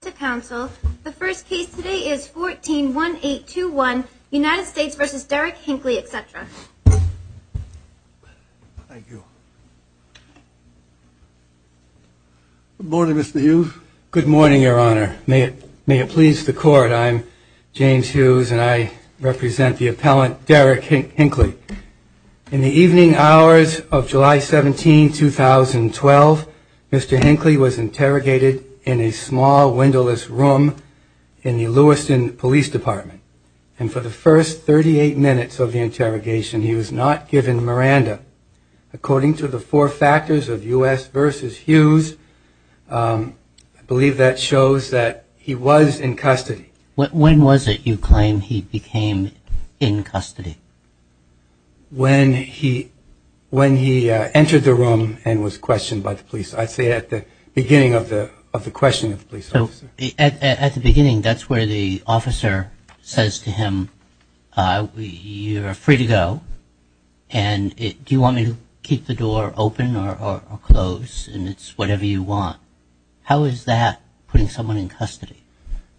The first case today is 141821, United States v. Derrick Hinkley, etc. Thank you. Good morning, Mr. Hughes. Good morning, Your Honor. May it please the Court, I'm James Hughes and I represent the appellant Derrick Hinkley. In the evening hours of July 17, 2012, Mr. Hinkley was interrogated in a small windowless room in the Lewiston Police Department. And for the first 38 minutes of the interrogation, he was not given Miranda. According to the four factors of U.S. v. Hughes, I believe that shows that he was in custody. When was it you claim he became in custody? When he entered the room and was questioned by the police. I'd say at the beginning of the question of the police officer. At the beginning, that's where the officer says to him, you're free to go, and do you want me to keep the door open or closed, and it's whatever you want. How is that putting someone in custody?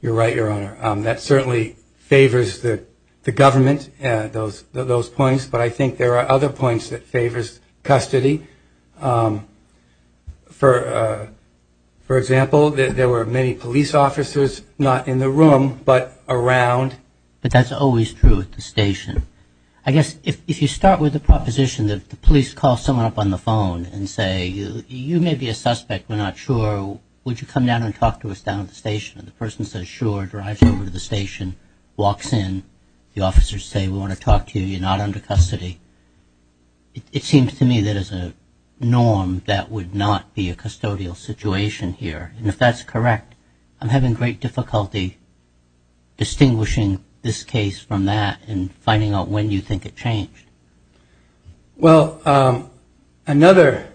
You're right, Your Honor. That certainly favors the government, those points, but I think there are other points that favors custody. For example, there were many police officers, not in the room, but around. But that's always true at the station. I guess if you start with the proposition that the police call someone up on the phone and say, you may be a suspect, we're not sure, would you come down and talk to us down at the station? And the person says, sure, drives over to the station, walks in, the officers say, we want to talk to you, you're not under custody. It seems to me that is a norm that would not be a custodial situation here. And if that's correct, I'm having great difficulty distinguishing this case from that and finding out when you think it changed. Well, another,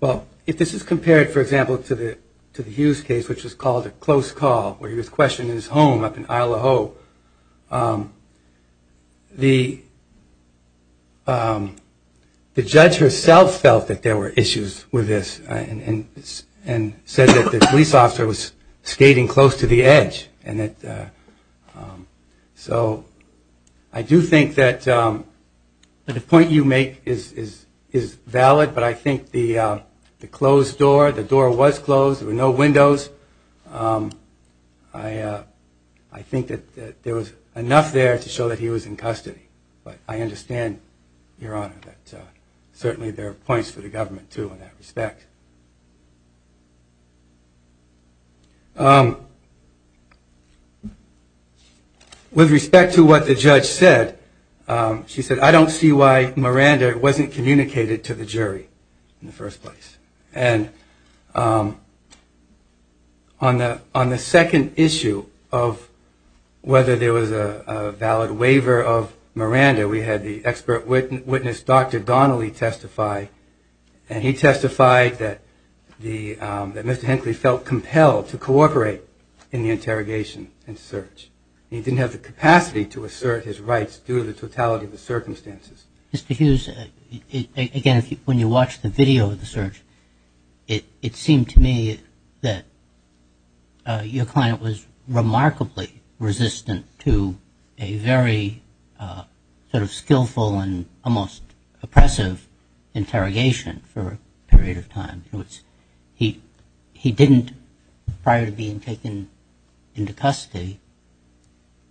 well, if this is compared, for example, to the Hughes case, which was called a close call, where he was questioned in his home up in Isle of Hope, the judge herself felt that there were issues with this and said that the police officer was skating close to the edge. So I do think that the point you make is valid, but I think the closed door, the door was closed, there were no windows. I think that there was enough there to show that he was in custody. But I understand, Your Honor, that certainly there are points for the government, too, in that respect. With respect to what the judge said, she said, I don't see why Miranda wasn't communicated to the jury in the first place. And on the second issue of whether there was a valid waiver of Miranda, we had the expert witness, Dr. Donnelly, testify, and he testified that Mr. Hinckley felt compelled to cooperate in the interrogation and search. He didn't have the capacity to assert his rights due to the totality of the circumstances. Mr. Hughes, again, when you watched the video of the search, it seemed to me that your client was remarkably resistant to a very sort of skillful and almost oppressive interrogation for a period of time. In other words, he didn't, prior to being taken into custody,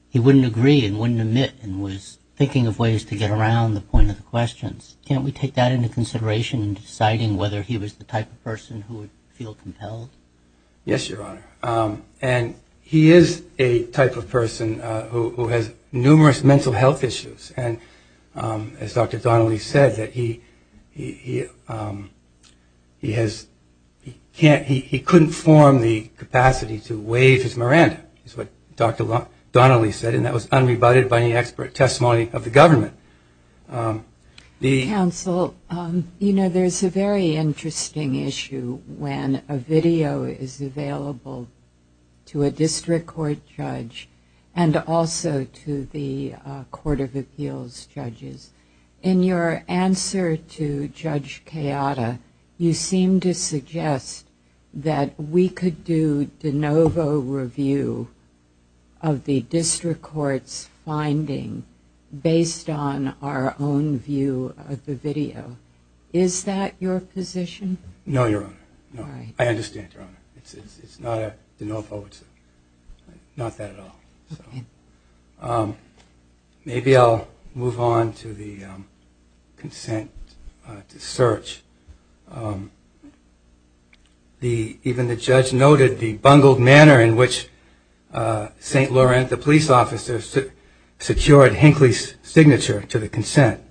he wouldn't agree and wouldn't admit and was thinking of ways to get around the point of the questions. Can't we take that into consideration in deciding whether he was the type of person who would feel compelled? Yes, Your Honor. And he is a type of person who has numerous mental health issues. And as Dr. Donnelly said, he couldn't form the capacity to waive his Miranda, is what Dr. Donnelly said, and that was unrebutted by any expert testimony of the government. Counsel, you know, there's a very interesting issue when a video is available to a district court judge and also to the court of appeals judges. In your answer to Judge Kayada, you seem to suggest that we could do de novo review of the district court's finding based on our own view of the video. Is that your position? No, Your Honor. I understand, Your Honor. It's not a de novo. It's not that at all. Maybe I'll move on to the consent to search. Even the judge noted the bungled manner in which St. Laurent, the police officer, secured Hinckley's signature to the consent.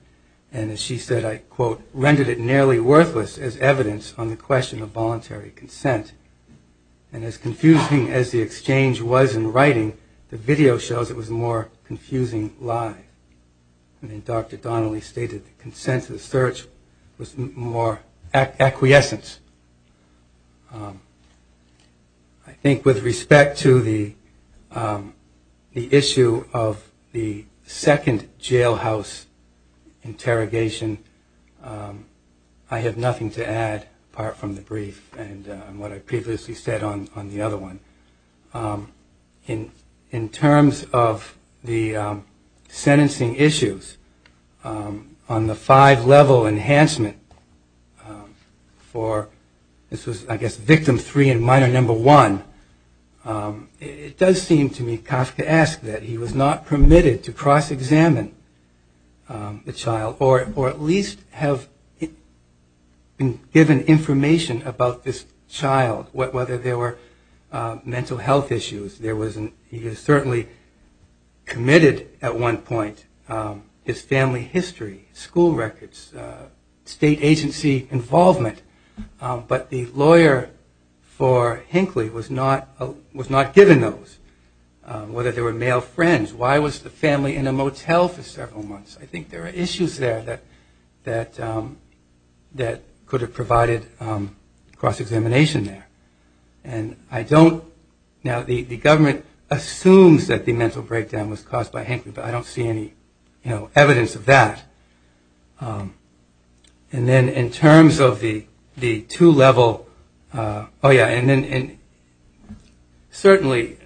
And as she said, I quote, And as confusing as the exchange was in writing, the video shows it was a more confusing lie. And Dr. Donnelly stated the consent to the search was more acquiescence. I think with respect to the issue of the second jailhouse interrogation, I have nothing to add apart from the brief and what I previously said on the other one. In terms of the sentencing issues on the five-level enhancement for, this was, I guess, victim three and minor number one, it does seem to me, Kafka asked that he was not permitted to cross-examine the child or at least have been given information about this child, whether there were mental health issues. He was certainly committed at one point, his family history, school records, state agency involvement, but the lawyer for Hinckley was not given those, whether they were male friends, why was the family in a motel for several months. I think there are issues there that could have provided cross-examination there. And I don't, now the government assumes that the mental breakdown was caused by Hinckley, but I don't see any evidence of that. And then in terms of the two-level, oh yeah, and certainly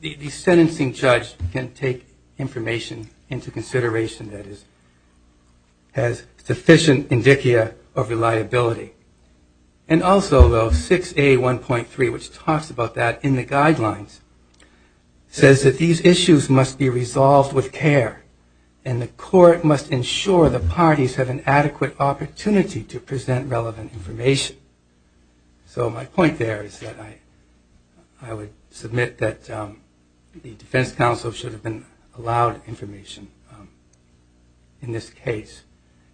the sentencing judge can take information into consideration that has sufficient indicia of reliability. And also though 6A1.3, which talks about that in the guidelines, says that these issues must be resolved with care and the court must ensure the parties have an adequate opportunity to present relevant information. So my point there is that I would submit that the defense counsel should have been allowed information in this case.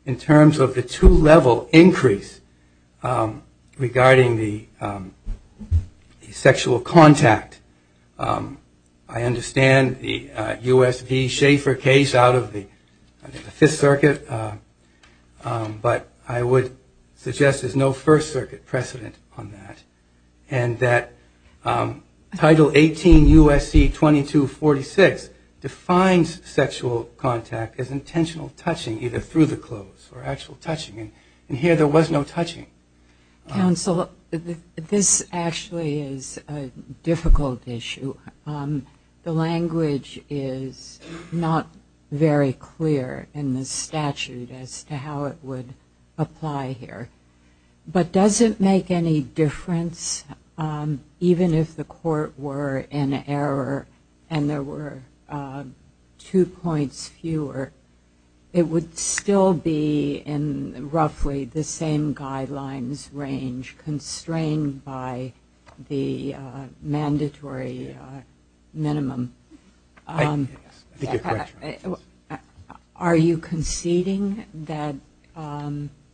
In terms of the two-level increase regarding the sexual contact, I understand the U.S. v. Schaefer case out of the 5th Circuit, but I would suggest there's no 1st Circuit precedent on that. And that Title 18 U.S.C. 2246 defines sexual contact as intentional touching either through the eyes or through the mouth. And in this case, it was intentional touching through the clothes or actual touching. And here there was no touching. Counsel, this actually is a difficult issue. The language is not very clear in the statute as to how it would apply here. But does it make any difference, even if the court were in error and there were two points fewer, it would still make no difference? Well, it will be in roughly the same guidelines range, constrained by the mandatory minimum. Are you conceding that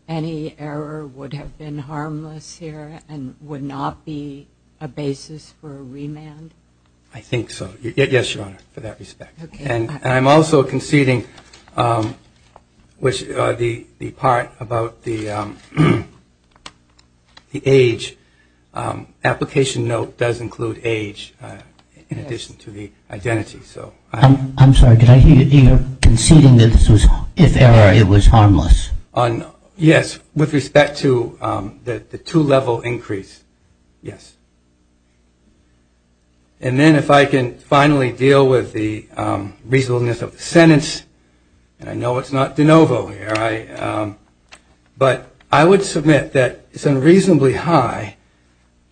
any error would have been harmless here and would not be a basis for a remand? I think so. The part about the age, application note does include age in addition to the identity. I'm sorry, are you conceding that if error, it was harmless? Yes, with respect to the two-level increase, yes. And then if I can finally deal with the reasonableness of the sentence, and I know it's not de novo here, but I would submit that it's unreasonably high,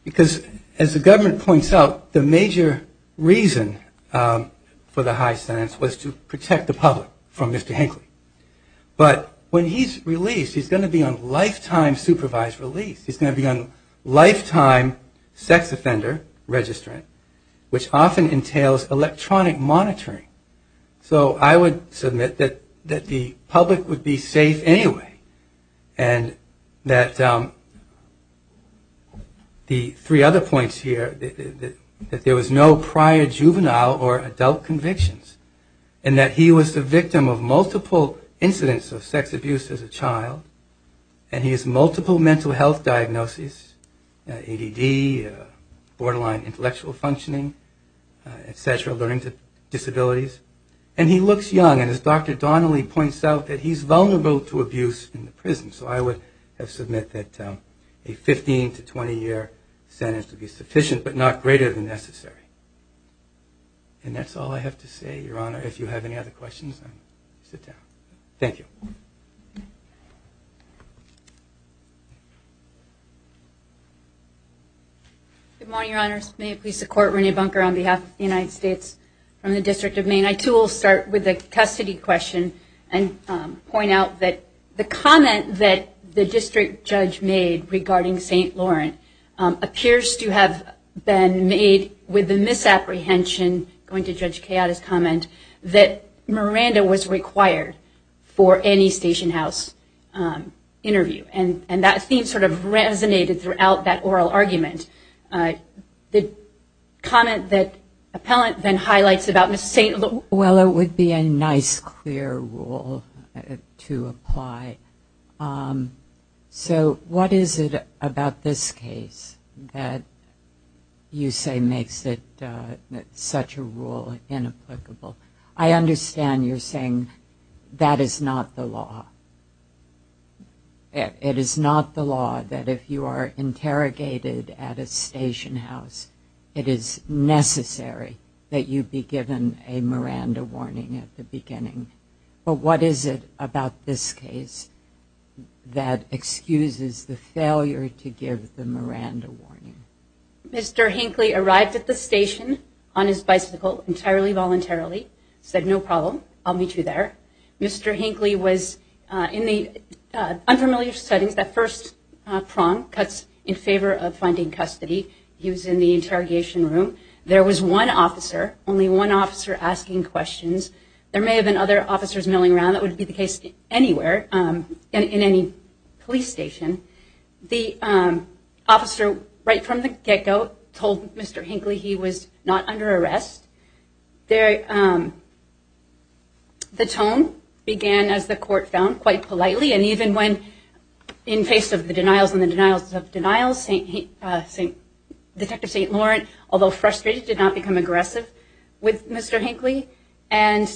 because as the government points out, the major reason for the high sentence was to protect the public from Mr. Hinckley. But when he's released, he's going to be on lifetime supervised release. He's going to be on lifetime sex offender registrant, which often entails electronic monitoring. So I would submit that the public would be safe anyway, and that the three other points here, that there was no prior juvenile or adult convictions, and that he was the victim of multiple incidents of sex abuse as a child, and he has multiple mental health diagnoses, ADD, borderline intellectual functioning, et cetera, and he looks young, and as Dr. Donnelly points out, that he's vulnerable to abuse in the prison. So I would submit that a 15 to 20-year sentence would be sufficient, but not greater than necessary. And that's all I have to say, Your Honor. If you have any other questions, sit down. Good morning, Your Honors. May it please the Court, Renee Bunker on behalf of the United States from the District of Maine. I, too, will start with a custody question and point out that the comment that the district judge made regarding St. Laurent appears to have been made with the misapprehension, going to Judge Chiata's comment, that Miranda was required for any station house interview, and that theme sort of resonated throughout that oral argument. The comment that the appellant then highlights about Ms. St. Laurent. Well, it would be a nice, clear rule to apply. So what is it about this case that you say makes it such a rule inapplicable? I understand you're saying that is not the law. It is not the law that if you are interrogated at a station house, it is necessary that you be given a Miranda warning at the beginning. But what is it about this case that excuses the failure to give the Miranda warning? Mr. Hinckley arrived at the station on his bicycle entirely voluntarily, said no problem, I'll meet you there. Mr. Hinckley was in the unfamiliar settings, that first prong, in favor of finding custody. He was in the interrogation room. There was one officer, only one officer asking questions. There may have been other officers milling around. That would be the case anywhere, in any police station. The officer right from the get-go told Mr. Hinckley he was not under arrest. The tone began, as the court found, quite politely, and even when, in face of the denials and the denials of denials, Detective St. Lawrence, although frustrated, did not become aggressive with Mr. Hinckley. And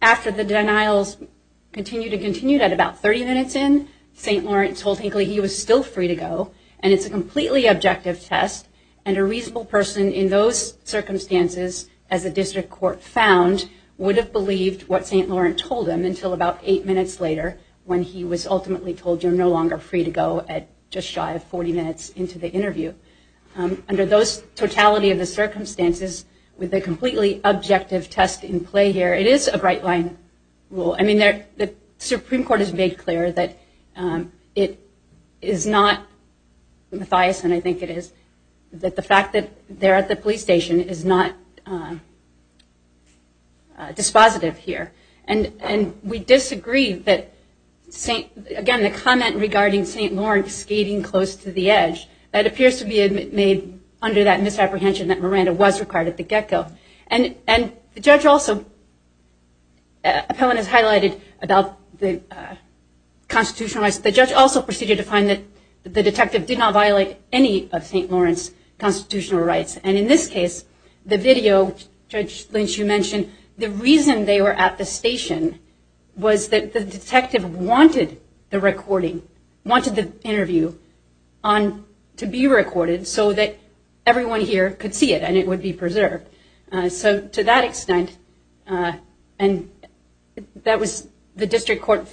after the denials continued and continued, at about 30 minutes in, St. Lawrence told Hinckley he was still free to go, and it's a completely objective test, and a reasonable person in those circumstances, as the district court found, would have believed what St. Lawrence told him until about eight minutes later, when he was ultimately told you're no longer free to go at just shy of 40 minutes into the interview. Under those totality of the circumstances, with a completely objective test in play here, it is a bright-line rule. I mean, the Supreme Court has made clear that it is not, Matthias and I think it is, that the fact that they're at the police station is not dispositive here. And we disagree that, again, the comment regarding St. Lawrence skating close to the edge, that appears to be made under that misapprehension that Miranda was required at the get-go. And the judge also, Appellant has highlighted about the constitutional rights, the judge also proceeded to find that the detective did not violate any of St. Lawrence constitutional rights. And in this case, the video, Judge Lynch, you mentioned, the reason they were at the station was that the detective wanted the recording, wanted the interview to be recorded so that everyone here could see it and it would be preserved. So to that extent, and that was the district court,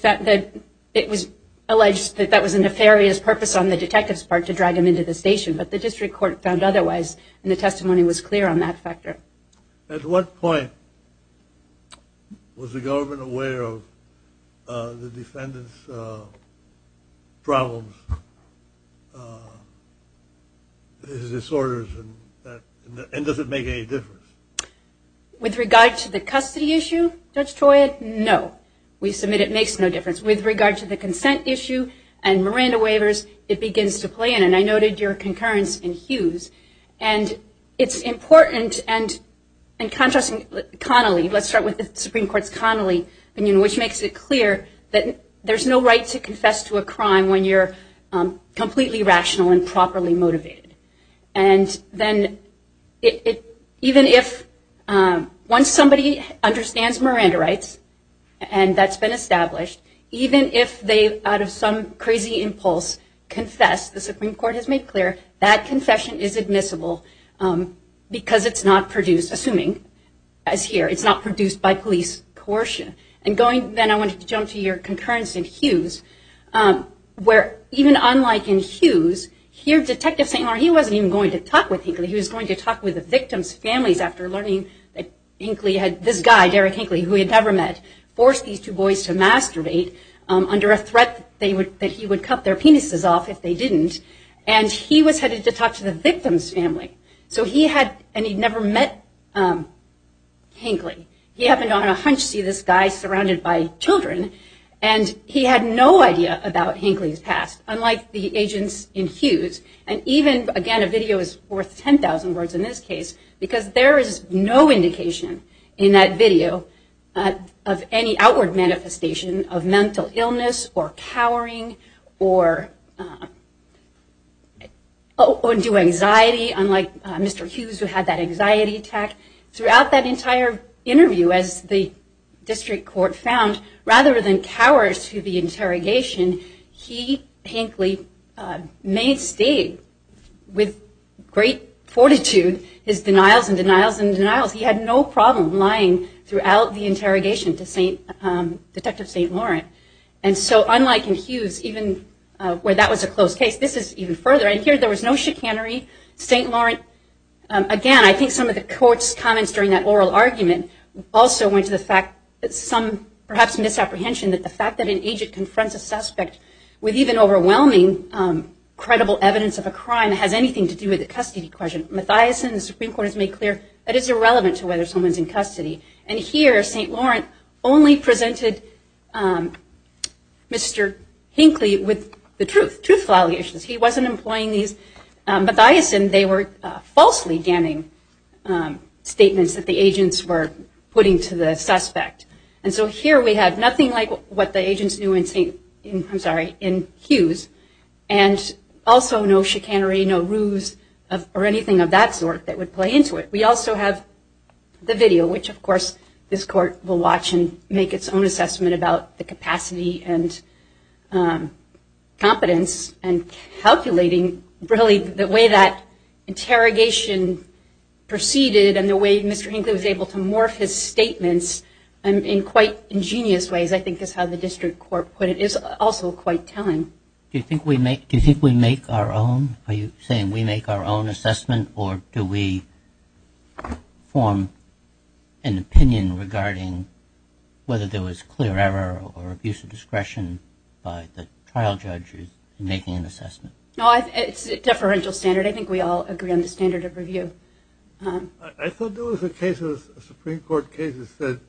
it was alleged that that was a nefarious purpose on the detective's part to drag him into the station. But the district court found otherwise, and the testimony was clear on that factor. At what point was the government aware of the defendant's problems, his disorders, and does it make any difference? With regard to the custody issue, Judge Troy, no, we submit it makes no difference. With regard to the consent issue and Miranda waivers, it begins to play in. And I noted your concurrence in Hughes. And it's important, and contrasting Connolly, let's start with the Supreme Court's Connolly opinion, which makes it clear that there's no right to confess to a crime when you're completely rational and properly motivated. And then even if, once somebody understands Miranda rights, and that's been established, even if they, out of some crazy impulse, confess, the Supreme Court has made clear, that confession is admissible because it's not produced, assuming as here, it's not produced by police coercion. And going, then I wanted to jump to your concurrence in Hughes, where even unlike in Hughes, here Detective St. Laurent, he wasn't even going to talk with Hinckley, he was going to talk with the victim's families after learning that Hinckley had, this guy, Derrick Hinckley, who he had never met, forced these two boys to masturbate under a threat that he would cut their penises off if they didn't, and he was headed to talk to the victim's family. So he had, and he'd never met Hinckley. He happened on a hunch to see this guy surrounded by children, and he had no idea about Hinckley's past, unlike the agents in Hughes, and even, again, a video is worth 10,000 words in this case, because there is no indication in that video of any outward manifestation of mental illness, or cowering, or due anxiety, unlike Mr. Hughes, who had that anxiety attack. Throughout that entire interview, as the district court found, rather than cower to the interrogation, he, Hinckley, may have stayed with great fortitude, his denials and denials and denials. He had no problem lying throughout the interrogation to Detective St. Laurent. And so, unlike in Hughes, even where that was a closed case, this is even further, and here there was no chicanery. St. Laurent, again, I think some of the court's comments during that oral argument also went to the fact that some, perhaps, misapprehension that the fact that an agent confronts a suspect with even overwhelming credible evidence of a crime has anything to do with the custody question. Mathiasson, the Supreme Court has made clear that it's irrelevant to whether someone's in custody. And here, St. Laurent only presented Mr. Hinckley with the truth, truthful allegations. He wasn't employing these. Mathiasson, they were falsely damning statements that the agents were putting to the suspect. And so here we have nothing like what the agents knew in Hughes, and also no chicanery, no ruse, or anything of that sort that would play into it. We also have the video, which, of course, this court will watch and make its own assessment about the capacity and competence and calculating, really, the way that interrogation proceeded and the way Mr. Hinckley was able to morph his statements in quite ingenious ways, I think is how the district court put it, is also quite telling. Do you think we make our own, are you saying we make our own assessment, or do we form an opinion regarding whether there was clear error or abuse of discretion by the trial judge in making an assessment? No, it's a deferential standard. I think we all agree on the standard of review. I thought there was a case of Supreme Court cases that,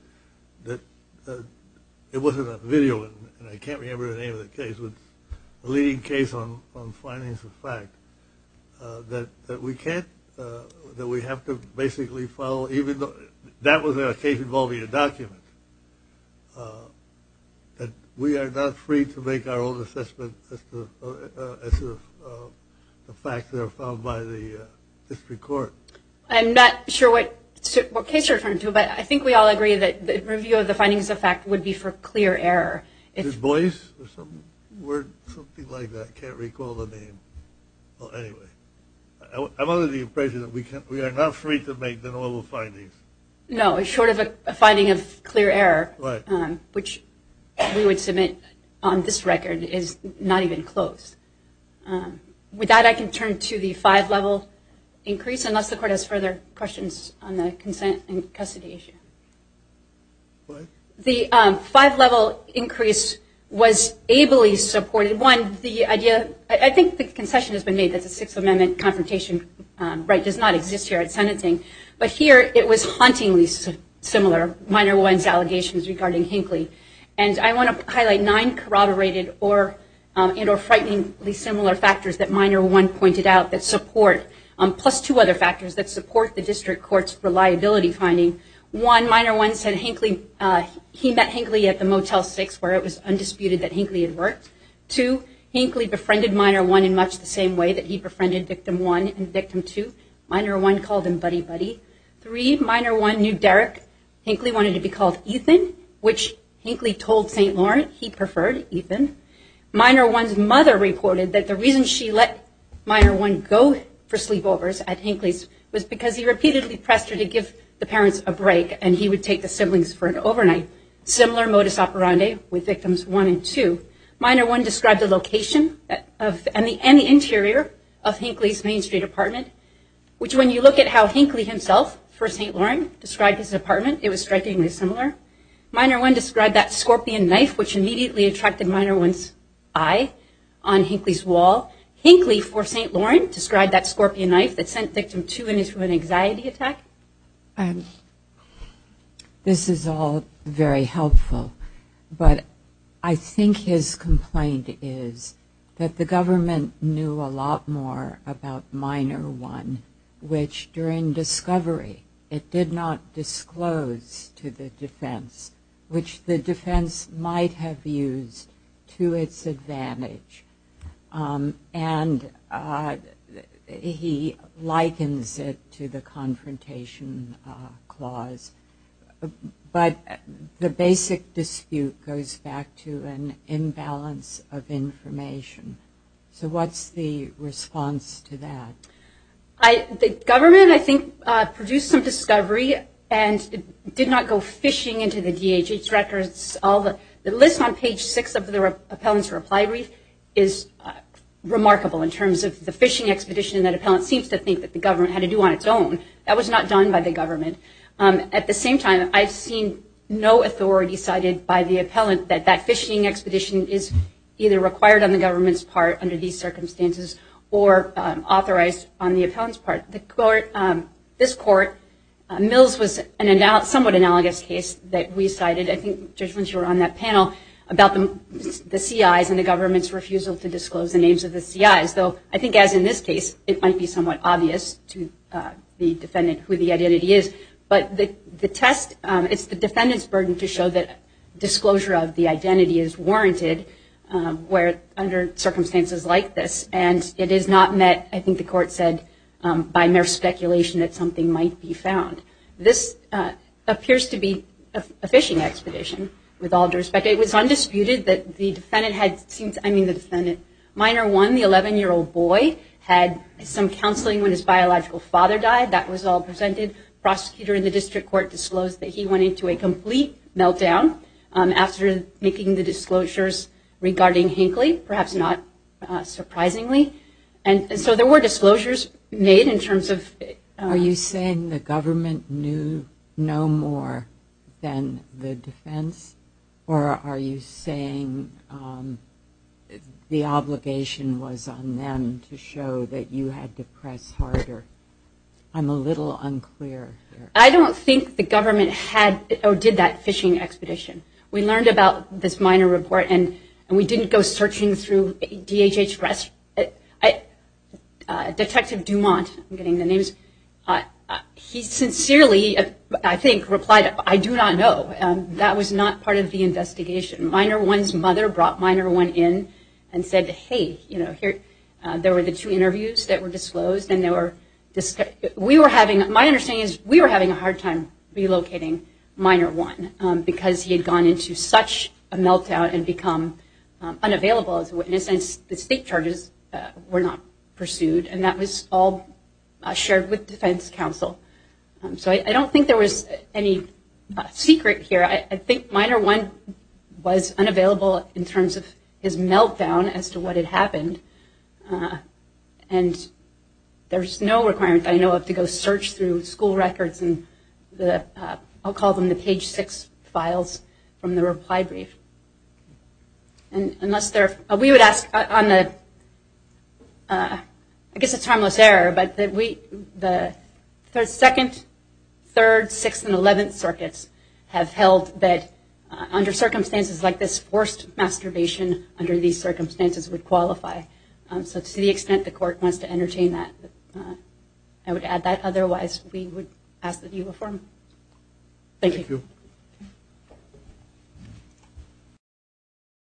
it wasn't a video, and I can't remember the name of the case, but a leading case on findings of fact that we can't, that we have to basically follow, even though that was a case involving a document, that we are not free to make our own assessment as to the facts that are found by the district court. I'm not sure what case you're referring to, but I think we all agree that the review of the findings of fact would be for clear error. Displace, or something like that, I can't recall the name. I'm under the impression that we are not free to make the normal findings. No, short of a finding of clear error, which we would submit on this record is not even close. With that, I can turn to the five-level increase, unless the court has further questions on the consent and custody issue. The five-level increase was ably supported. One, the idea, I think the concession has been made that the Sixth Amendment confrontation right does not exist here at sentencing, but here it was hauntingly similar, Minor One's allegations regarding Hinckley. I want to highlight nine corroborated or frighteningly similar factors that Minor One pointed out that support, plus two other factors that support the district court's reliability finding. One, Minor One said he met Hinckley at the Motel 6 where it was undisputed that Hinckley had worked. Two, Hinckley befriended Minor One in much the same way that he befriended Victim One and Victim Two. Minor One called him buddy-buddy. Three, Minor One knew Derrick Hinckley wanted to be called Ethan, which Hinckley told St. Lawrence he preferred Ethan. Minor One's mother reported that the reason she let Minor One go for sleepovers at Hinckley's was because he repeatedly pressed her to give the parents a break and he would take the siblings for an overnight. Similar modus operandi with Victims One and Two. Minor One described the location and the interior of Hinckley's Main Street apartment, which when you look at how Hinckley himself for St. Lawrence described his apartment, it was strikingly similar. Minor One described that scorpion knife which immediately attracted Minor One's eye on Hinckley's wall. Hinckley for St. Lawrence described that scorpion knife that sent Victim Two into an anxiety attack. This is all very helpful, but I think his complaint is that the government knew a lot more about Minor One, which during discovery it did not disclose to the defense, which the defense might have used to its advantage. And he likens it to the confrontation clause, but the basic dispute goes back to an imbalance of information. So what's the response to that? The government I think produced some discovery and did not go fishing into the DHH records. The list on page six of the appellant's reply brief is remarkable in terms of the fishing expedition that appellant seems to think the government had to do on its own. That was not done by the government. At the same time, I've seen no authority cited by the appellant that that fishing expedition is either required on the government's part under these circumstances or authorized on the appellant's part. This court, Mills was a somewhat analogous case that we cited, I think Judge Lynch you were on that panel, about the CIs and the government's refusal to disclose the names of the CIs, though I think as in this case it might be somewhat obvious to the defendant who the identity is. But the test, it's the defendant's burden to show that disclosure of the identity is warranted under circumstances like this. And it is not met, I think the court said, by mere speculation that something might be found. This appears to be a fishing expedition with all due respect. It was undisputed that the defendant had, I mean the defendant, minor one, the 11-year-old boy, had some counseling when his biological father died. That was all presented. Prosecutor in the district court disclosed that he went into a complete meltdown after making the disclosures regarding Hinckley, perhaps not surprisingly. And so there were disclosures made in terms of... Are you saying the government knew no more than the defense? Or are you saying the obligation was on them to show that you had to press harder? I'm a little unclear. I don't think the government did that fishing expedition. We learned about this minor report and we didn't go searching through DHH...Detective Dumont, I'm getting the names, he sincerely, I think, replied, I do not know. That was not part of the investigation. Minor one's mother brought minor one in and said, hey, there were the two interviews that were disclosed. My understanding is we were having a hard time relocating minor one because he had gone into such a meltdown and become unavailable as a witness and the state charges were not pursued and that was all shared with defense counsel. So I don't think there was any secret here. I think minor one was unavailable in terms of his meltdown as to what had happened. And there's no requirement I know of to go search through school records and the, I'll call them the page six files from the reply brief. Unless there... We would ask on the, I guess it's harmless error, but the second, third, sixth, and eleventh circuits have held that under circumstances like this forced masturbation under these circumstances would qualify. So to the extent the court wants to entertain that I would add that otherwise we would ask that you inform. Thank you.